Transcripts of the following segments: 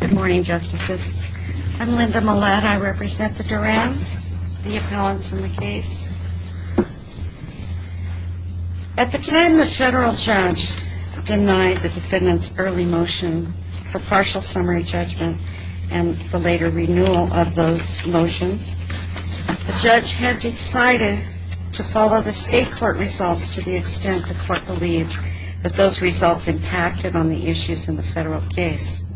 Good morning, Justices. I'm Linda Mullett. I represent the Durans, the appellants in the case. At the time the federal judge denied the defendant's early motion for partial summary judgment and the later renewal of those motions, the judge had decided to follow the state court results to the extent the court believed that those results impacted on the issues in the federal case.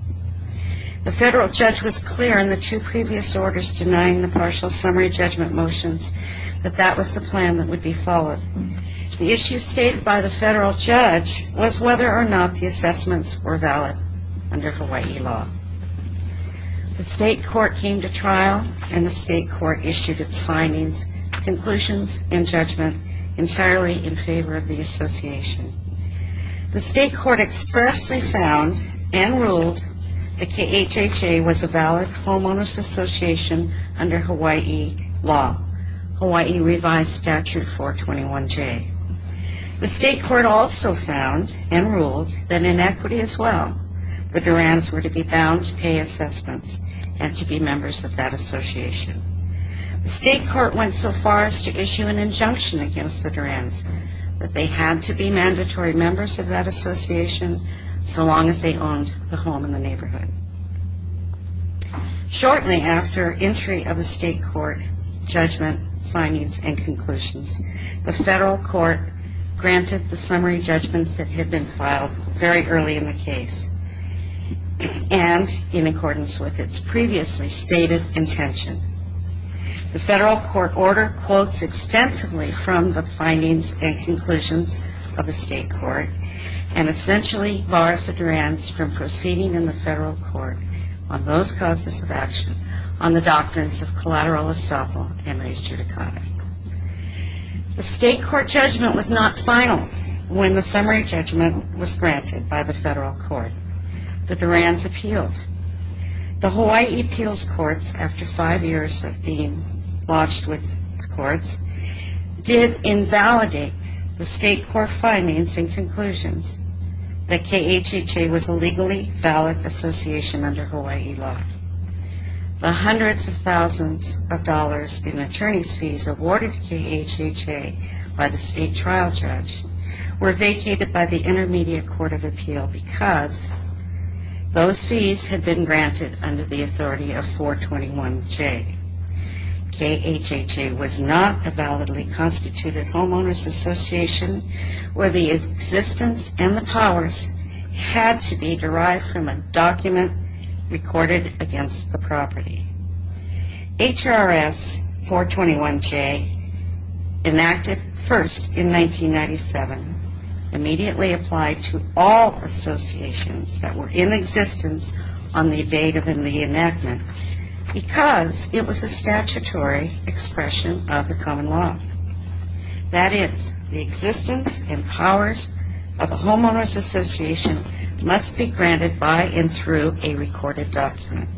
The federal judge was clear in the two previous orders denying the partial summary judgment motions that that was the plan that would be followed. The issue stated by the federal judge was whether or not the assessments were valid under Hawaii law. The state court came to trial and the state court issued its findings, conclusions and judgment entirely in favor of the association. The state court expressly found and ruled that the HHA was a valid homeowner's association under Hawaii law, Hawaii revised statute 421J. The state court also found and ruled that in equity as well, the Durans were to be bound to pay assessments and to be members of that association. The state court went so far as to issue an injunction against the Durans that they had to be mandatory members of that association so long as they owned the home in the neighborhood. Shortly after entry of the state court judgment, findings and conclusions, the federal court granted the summary judgments that had been filed very early in the case and in accordance with its previously stated intention. The federal court order quotes extensively from the findings and conclusions of the state court and essentially bars the Durans from proceeding in the federal court on those causes of action on the doctrines of collateral estoppel and res judicata. The state court judgment was not final when the summary judgment was granted by the federal court. The Durans appealed. The Hawaii appeals courts, after five years of being lodged with the courts, did invalidate the state court findings and conclusions that KHHA was a legally valid association under Hawaii law. The hundreds of thousands of dollars in attorney's fees awarded to KHHA by the state trial judge were vacated by the intermediate court of appeal because those fees had been granted under the authority of 421J. KHHA was not a validly constituted homeowner's association where the existence and the powers had to be derived from a document recorded against the property. HRS 421J, enacted first in 1997, immediately applied to all associations that were in existence on the date of the enactment because it was a statutory expression of the common law. That is, the existence and powers of a homeowner's association must be granted by and through a recorded document.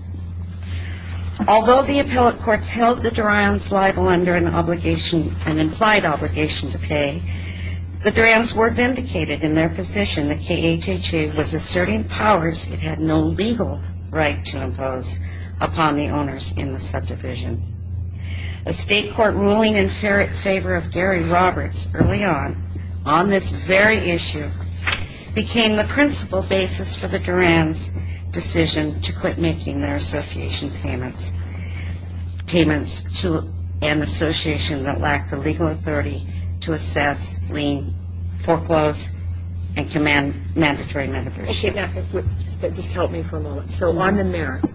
Although the appellate courts held the Durans liable under an implied obligation to pay, the Durans were vindicated in their position that KHHA was asserting powers it had no legal right to impose upon the owners in the subdivision. A state court ruling in favor of Gary Roberts early on, on this very issue, became the principal basis for the Durans' decision to quit making their association payments to an association that lacked the legal authority to assess, lien, foreclose, and command mandatory membership. Okay, now just help me for a moment. So on the merits,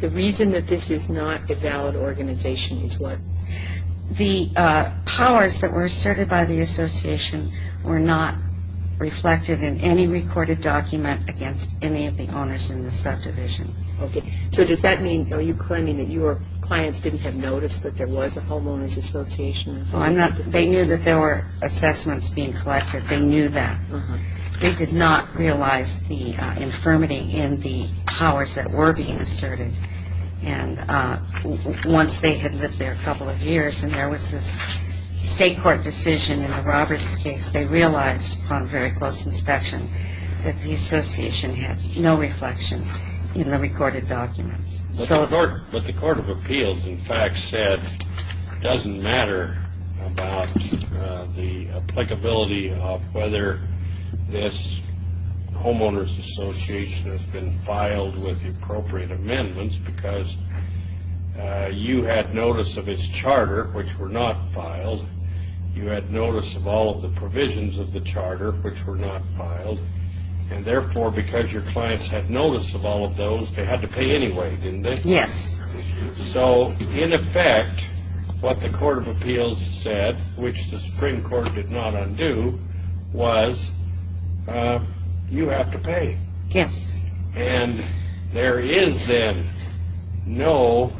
the reason that this is not a valid organization is what? The powers that were asserted by the association were not reflected in any recorded document against any of the owners in the subdivision. Okay, so does that mean, are you claiming that your clients didn't have noticed that there was a homeowner's association? They knew that there were assessments being collected. They knew that. They did not realize the infirmity in the powers that were being asserted. And once they had lived there a couple of years and there was this state court decision in the Roberts case, they realized upon very close inspection that the association had no reflection in the recorded documents. But the court of appeals, in fact, said it doesn't matter about the applicability of whether this homeowner's association has been filed with the appropriate amendments because you had notice of its charter, which were not filed. You had notice of all of the provisions of the charter, which were not filed. And therefore, because your clients had notice of all of those, they had to pay anyway, didn't they? Yes. So, in effect, what the court of appeals said, which the Supreme Court did not undo, was you have to pay. Yes. And there is then no,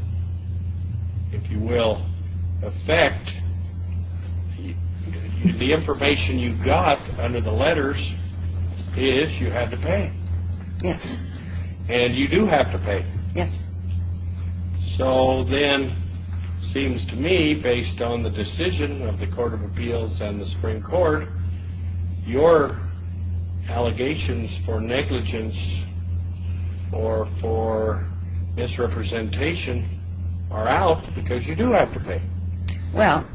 if you will, effect. The information you got under the letters is you have to pay. Yes. And you do have to pay. Yes. So then, it seems to me, based on the decision of the court of appeals and the Supreme Court, your allegations for negligence or for misrepresentation are out because you do have to pay. Well,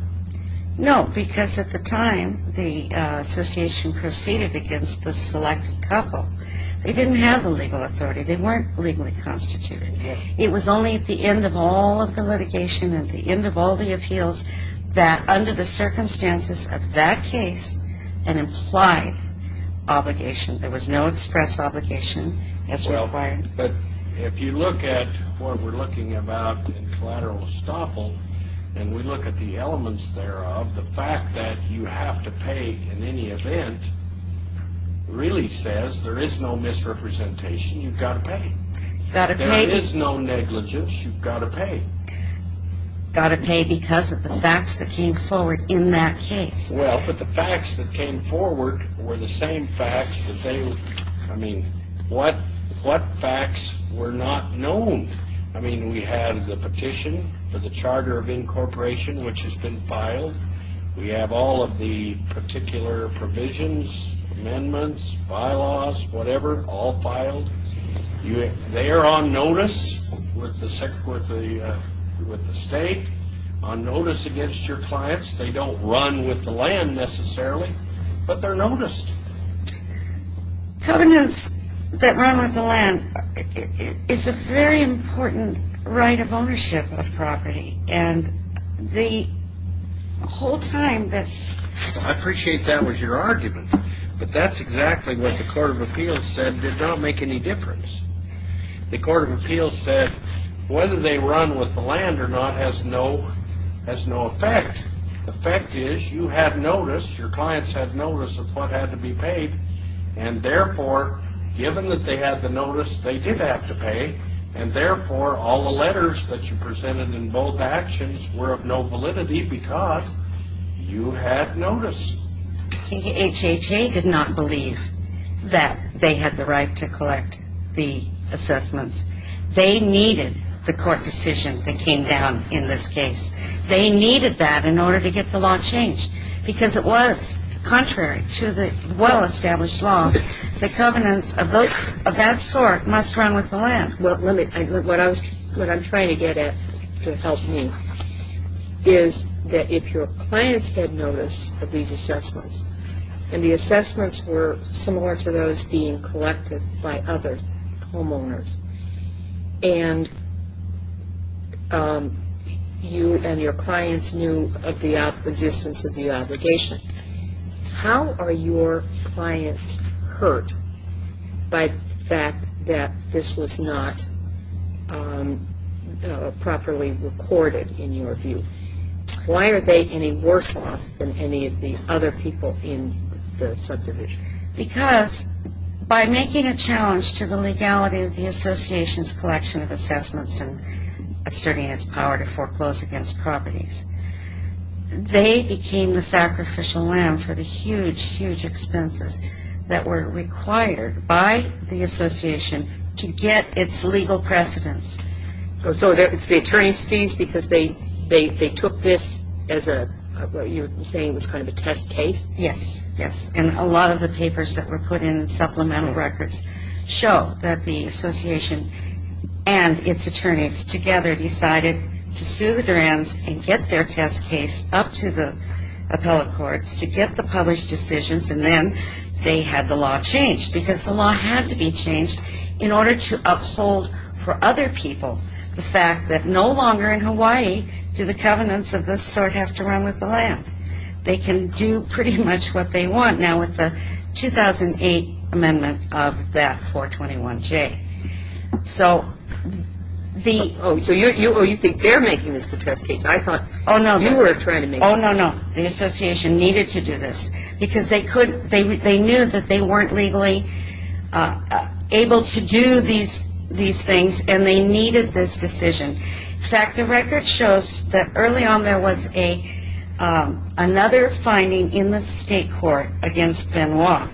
no, because at the time, the association proceeded against the selected couple. They didn't have the legal authority. They weren't legally constituted. It was only at the end of all of the litigation, at the end of all the appeals, that under the circumstances of that case, an implied obligation. There was no express obligation as required. But if you look at what we're looking about in collateral estoppel, and we look at the elements thereof, the fact that you have to pay in any event really says there is no misrepresentation. You've got to pay. You've got to pay. There is no negligence. You've got to pay. You've got to pay because of the facts that came forward in that case. Well, but the facts that came forward were the same facts that they, I mean, what facts were not known? I mean, we had the petition for the charter of incorporation, which has been filed. We have all of the particular provisions, amendments, bylaws, whatever, all filed. They are on notice with the state, on notice against your clients. They don't run with the land necessarily, but they're noticed. Covenants that run with the land is a very important right of ownership of property, and the whole time that ‑‑ I appreciate that was your argument, but that's exactly what the court of appeals said did not make any difference. The court of appeals said whether they run with the land or not has no effect. The effect is you had notice, your clients had notice of what had to be paid, and therefore, given that they had the notice, they did have to pay, and therefore, all the letters that you presented in both actions were of no validity because you had notice. The HHA did not believe that they had the right to collect the assessments. They needed the court decision that came down in this case. They needed that in order to get the law changed because it was contrary to the well‑established law. The covenants of that sort must run with the land. What I'm trying to get at to help me is that if your clients had notice of these assessments and the assessments were similar to those being collected by others, homeowners, and you and your clients knew of the existence of the obligation, how are your clients hurt by the fact that this was not properly recorded in your view? Why are they any worse off than any of the other people in the subdivision? Because by making a challenge to the legality of the association's collection of assessments and asserting its power to foreclose against properties, they became the sacrificial lamb for the huge, huge expenses that were required by the association to get its legal precedence. So it's the attorney's fees because they took this as what you're saying was kind of a test case? Yes, yes, and a lot of the papers that were put in supplemental records show that the association and its attorneys together decided to sue the Durans and get their test case up to the appellate courts to get the published decisions and then they had the law changed because the law had to be changed in order to uphold for other people the fact that no longer in Hawaii do the covenants of this sort have to run with the land. They can do pretty much what they want now with the 2008 amendment of that 421J. So the... Oh, so you think they're making this the test case? I thought you were trying to make... Oh, no, no. The association needed to do this because they knew that they weren't legally able to do these things and they needed this decision. In fact, the record shows that early on there was another finding in the state court against Benoit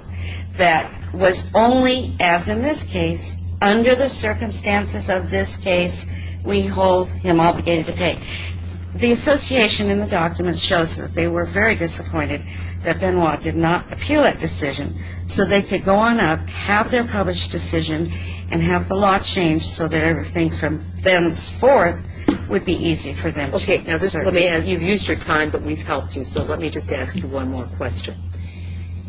that was only, as in this case, under the circumstances of this case, we hold him obligated to pay. The association in the documents shows that they were very disappointed that Benoit did not appeal that decision so they could go on up, have their published decision, and have the law changed so that everything from thenceforth would be easy for them to assert. Okay, now you've used your time, but we've helped you, so let me just ask you one more question.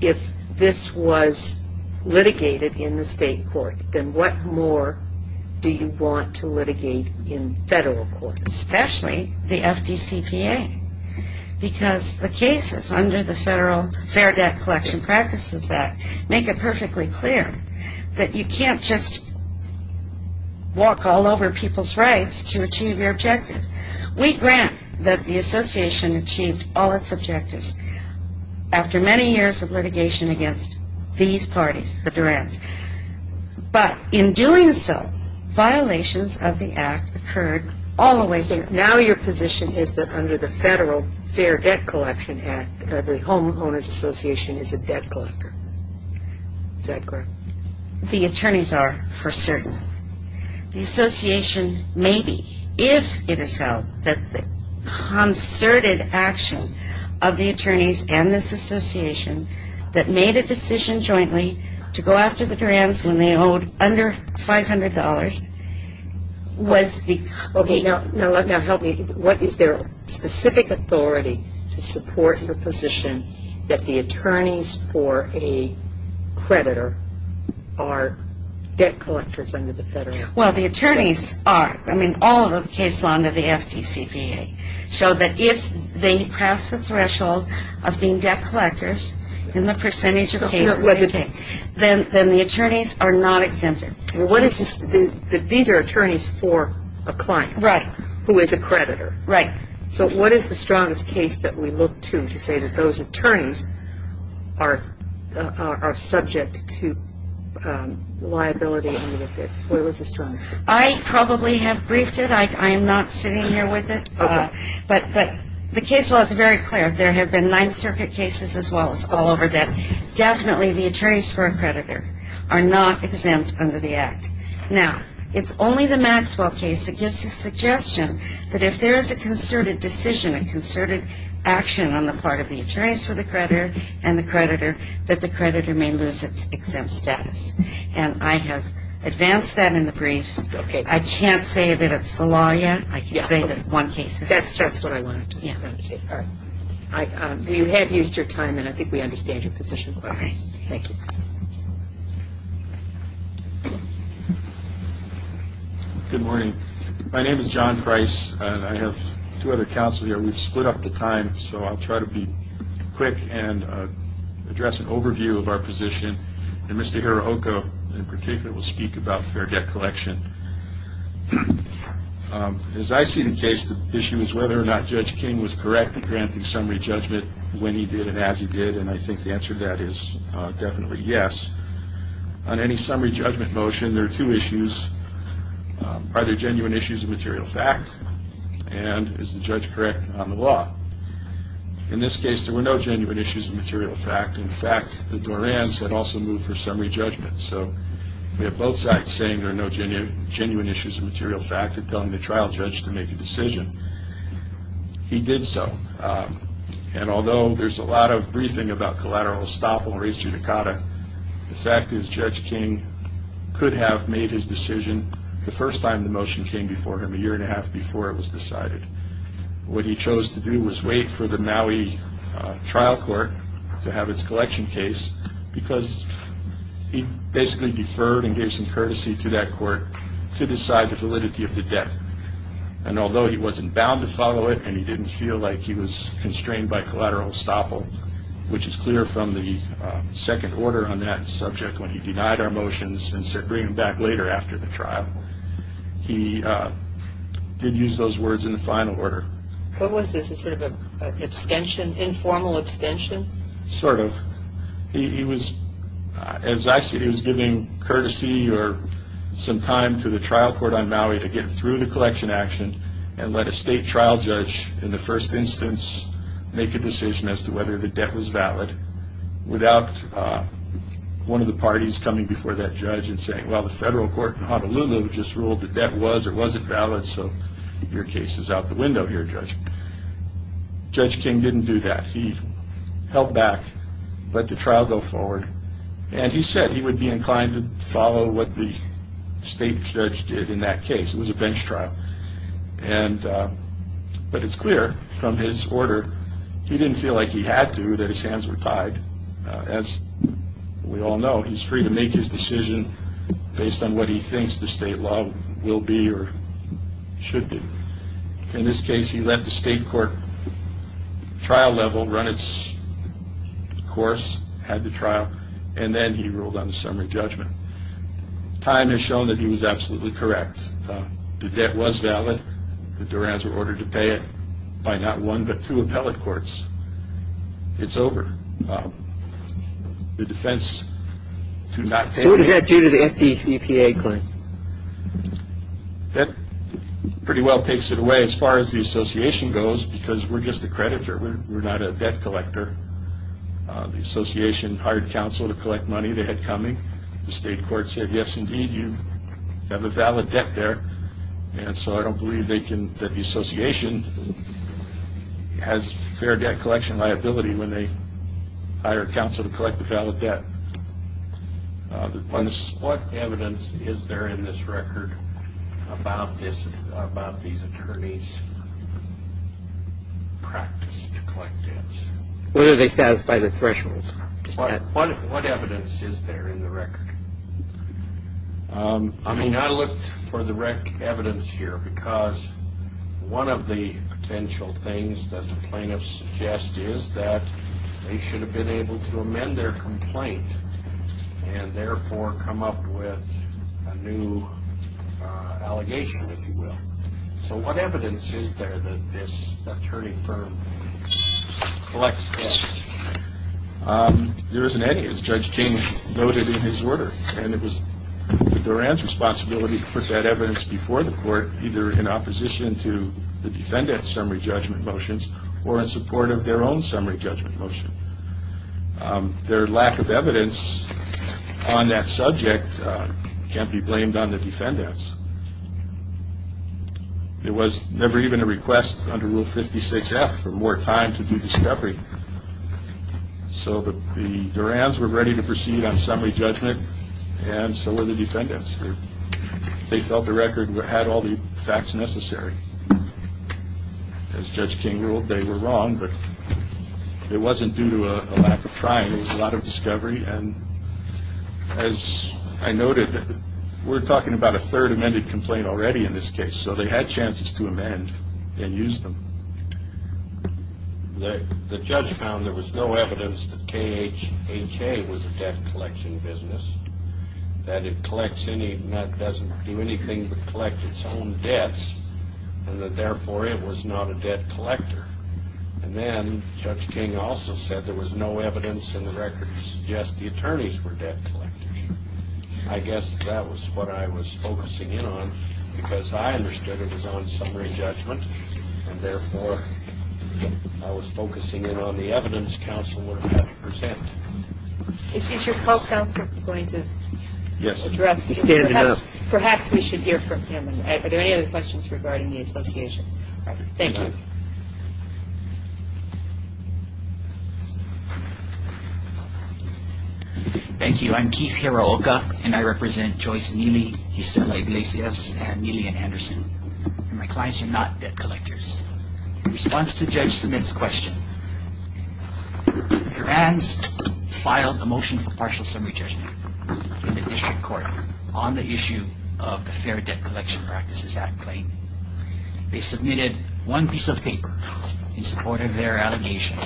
If this was litigated in the state court, then what more do you want to litigate in federal court? Especially the FDCPA because the cases under the Federal Fair Debt Collection Practices Act make it perfectly clear that you can't just walk all over people's rights to achieve your objective. We grant that the association achieved all its objectives after many years of litigation against these parties, the Durants, but in doing so, violations of the act occurred all the way through. Now your position is that under the Federal Fair Debt Collection Act, the Home Owners Association is a debt collector. Is that correct? The attorneys are for certain. The association may be, if it is held that the concerted action of the attorneys and this association that made a decision jointly to go after the Durants when they owed under $500 was the... Okay, now help me. What is their specific authority to support your position that the attorneys for a creditor are debt collectors under the Federal Fair Debt Collection Act? Well, the attorneys are. I mean, all of the cases under the FDCPA show that if they pass the threshold of being debt collectors in the percentage of cases they take, then the attorneys are not exempted. These are attorneys for a client... Right. ...who is a creditor. Right. So what is the strongest case that we look to to say that those attorneys are subject to liability? What was the strongest? I probably have briefed it. I am not sitting here with it. Okay. But the case law is very clear. There have been Ninth Circuit cases as well as all over that definitely the attorneys for a creditor are not exempt under the Act. Now, it's only the Maxwell case that gives the suggestion that if there is a concerted decision, a concerted action on the part of the attorneys for the creditor and the creditor, that the creditor may lose its exempt status. And I have advanced that in the briefs. Okay. I can't say that it's the law yet. I can say that one case... That's what I wanted to say. All right. You have used your time, and I think we understand your position. All right. Thank you. Good morning. My name is John Price, and I have two other counsel here. We've split up the time, so I'll try to be quick and address an overview of our position. And Mr. Hirohiko, in particular, will speak about fair debt collection. As I see the case, the issue is whether or not Judge King was correct in granting summary judgment when he did and as he did, and I think the answer to that is definitely yes. On any summary judgment motion, there are two issues. Are there genuine issues of material fact? And is the judge correct on the law? In this case, there were no genuine issues of material fact. In fact, the Dorans had also moved for summary judgment. So we have both sides saying there are no genuine issues of material fact and telling the trial judge to make a decision. He did so. And although there's a lot of briefing about collateral estoppel and res judicata, the fact is Judge King could have made his decision the first time the motion came before him, a year and a half before it was decided. What he chose to do was wait for the Maui trial court to have its collection case because he basically deferred and gave some courtesy to that court to decide the validity of the debt. And although he wasn't bound to follow it and he didn't feel like he was constrained by collateral estoppel, which is clear from the second order on that subject when he denied our motions and said bring them back later after the trial, he did use those words in the final order. What was this? A sort of an extension, informal extension? Sort of. He was, as I see it, he was giving courtesy or some time to the trial court on Maui to get through the collection action and let a state trial judge in the first instance make a decision as to whether the debt was valid without one of the parties coming before that judge and saying, well, the federal court in Honolulu just ruled the debt was or wasn't valid, so your case is out the window here, Judge. Judge King didn't do that. He held back, let the trial go forward, and he said he would be inclined to follow what the state judge did in that case. It was a bench trial. But it's clear from his order he didn't feel like he had to, that his hands were tied. As we all know, he's free to make his decision based on what he thinks the state law will be or should be. In this case, he let the state court trial level run its course, had the trial, and then he ruled on the summary judgment. Time has shown that he was absolutely correct. The debt was valid. The Durans were ordered to pay it by not one but two appellate courts. It's over. The defense did not pay it. So what does that do to the FDCPA claim? That pretty well takes it away as far as the association goes because we're just a creditor. We're not a debt collector. The association hired counsel to collect money they had coming. The state court said, yes, indeed, you have a valid debt there, and so I don't believe that the association has fair debt collection liability when they hire counsel to collect a valid debt. What evidence is there in this record about these attorneys' practice to collect debts? Whether they satisfy the threshold. What evidence is there in the record? I mean, I looked for the evidence here because one of the potential things that the plaintiffs suggest is that they should have been able to amend their complaint and therefore come up with a new allegation, if you will. So what evidence is there that this attorney firm collects debts? There isn't any, as Judge King noted in his order, and it was the Durans' responsibility to put that evidence before the court, either in opposition to the defendant's summary judgment motions or in support of their own summary judgment motion. Their lack of evidence on that subject can't be blamed on the defendants. There was never even a request under Rule 56F for more time to do discovery. So the Durans were ready to proceed on summary judgment, and so were the defendants. They felt the record had all the facts necessary. As Judge King ruled, they were wrong, but it wasn't due to a lack of trying. It was a lot of discovery, and as I noted, we're talking about a third amended complaint already in this case, so they had chances to amend and use them. The judge found there was no evidence that KHA was a debt collection business, that it doesn't do anything but collect its own debts, and that therefore it was not a debt collector. And then Judge King also said there was no evidence in the record to suggest the attorneys were debt collectors. I guess that was what I was focusing in on, because I understood it was on summary judgment, and therefore I was focusing in on the evidence counsel would have had to present. Is your co-counsel going to address this? Yes, he's standing up. Perhaps we should hear from him. Are there any other questions regarding the association? All right. Thank you. Thank you. I'm Keith Hiraoka, and I represent Joyce Neely, Gisela Iglesias, and Neely and Anderson, and my clients are not debt collectors. In response to Judge Smith's question, the Grants filed a motion for partial summary judgment in the district court on the issue of the Fair Debt Collection Practices Act claim. They submitted one piece of paper in support of their allegation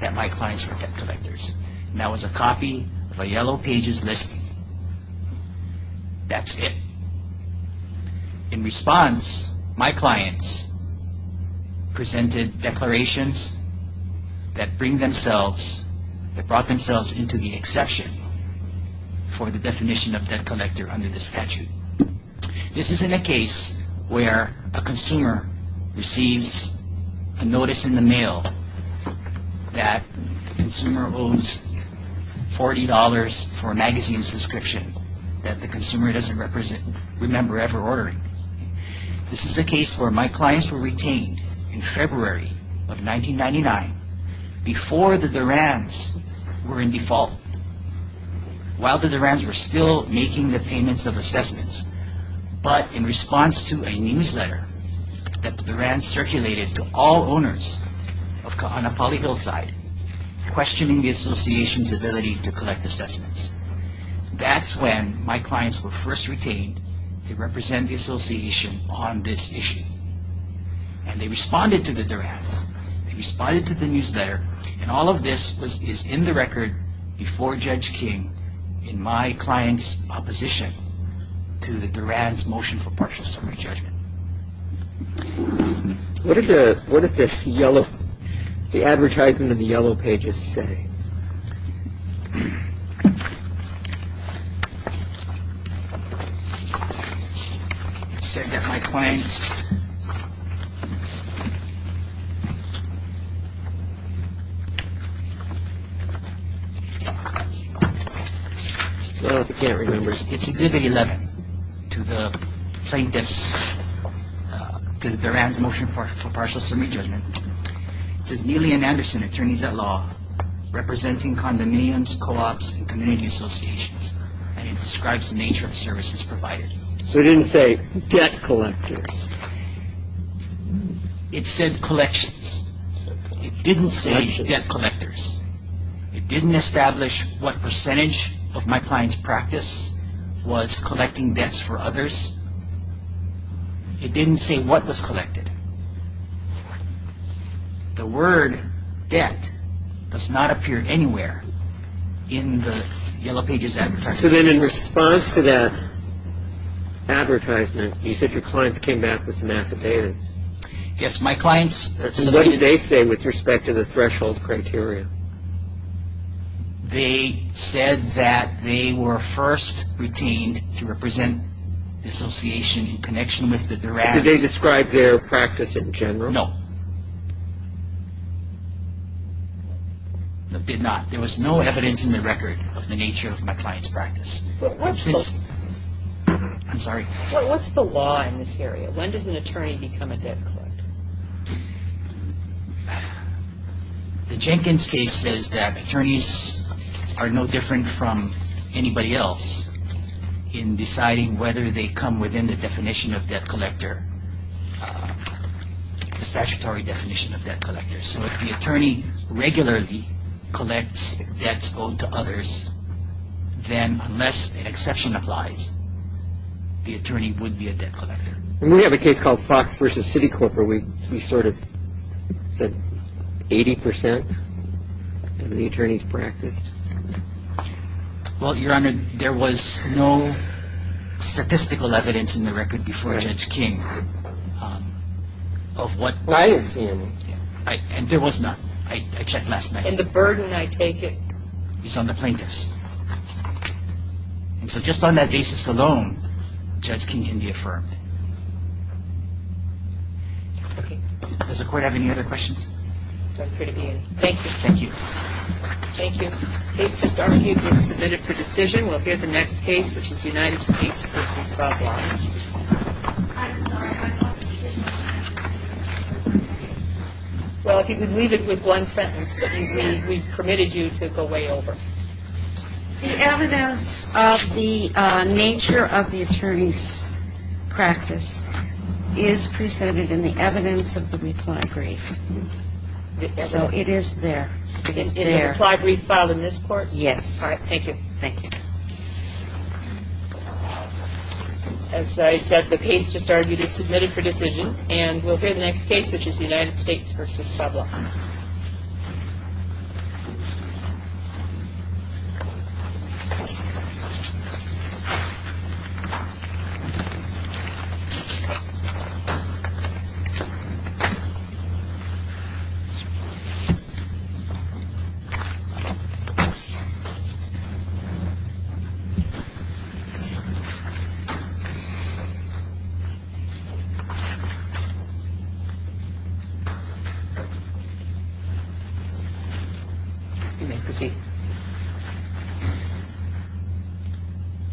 that my clients were debt collectors, and that was a copy of a yellow pages listing. That's it. In response, my clients presented declarations that bring themselves, that brought themselves into the exception for the definition of debt collector under the statute. This isn't a case where a consumer receives a notice in the mail that the consumer owns $40 for a magazine subscription that the consumer doesn't remember ever ordering. This is a case where my clients were retained in February of 1999 before the DURAMs were in default. While the DURAMs were still making the payments of assessments, but in response to a newsletter that the DURAMs circulated to all owners of Kahanapali Hillside, questioning the association's ability to collect assessments. That's when my clients were first retained. They represent the association on this issue, and they responded to the DURAMs. They responded to the newsletter, and all of this is in the record before Judge King in my client's opposition to the DURAMs motion for partial summary judgment. What did the yellow, the advertisement in the yellow pages say? It said that my clients... Oh, I can't remember. It's Exhibit 11 to the plaintiffs, to the DURAMs motion for partial summary judgment. It says, Neely and Anderson, attorneys at law, representing condominiums, co-ops, and community associations, and it describes the nature of services provided. So it didn't say debt collectors? It said collections. It didn't say debt collectors. It didn't establish what percentage of my client's practice was collecting debts for others. It didn't say what was collected. The word debt does not appear anywhere in the yellow pages advertisement. So then in response to that advertisement, you said your clients came back with some affidavits. Yes, my clients... What did they say with respect to the threshold criteria? They said that they were first retained to represent the association in connection with the DURAMs. Did they describe their practice in general? No. They did not. There was no evidence in the record of the nature of my client's practice. I'm sorry. What's the law in this area? When does an attorney become a debt collector? The Jenkins case says that attorneys are no different from anybody else in deciding whether they come within the definition of debt collector, the statutory definition of debt collector. So if the attorney regularly collects debts owed to others, then unless an exception applies, the attorney would be a debt collector. We have a case called Fox versus Citicorp where we sort of said 80% of the attorneys practiced. Well, Your Honor, there was no statistical evidence in the record before Judge King of what... I didn't see any. And there was none. I checked last night. And the burden, I take it... Is on the plaintiffs. And so just on that basis alone, Judge King can be affirmed. Okay. Does the Court have any other questions? I'm free to be in. Thank you. Thank you. Thank you. The case just argued was submitted for decision. We'll hear the next case, which is United States versus SovLon. Well, if you could leave it with one sentence that we permitted you to go way over. The evidence of the nature of the attorney's practice is presented in the evidence of the reply brief. So it is there. It is there. In the reply brief filed in this Court? Yes. All right. Thank you. Thank you. As I said, the case just argued is submitted for decision. And we'll hear the next case, which is United States versus SovLon. Thank you. You may proceed. Mr. Stewart.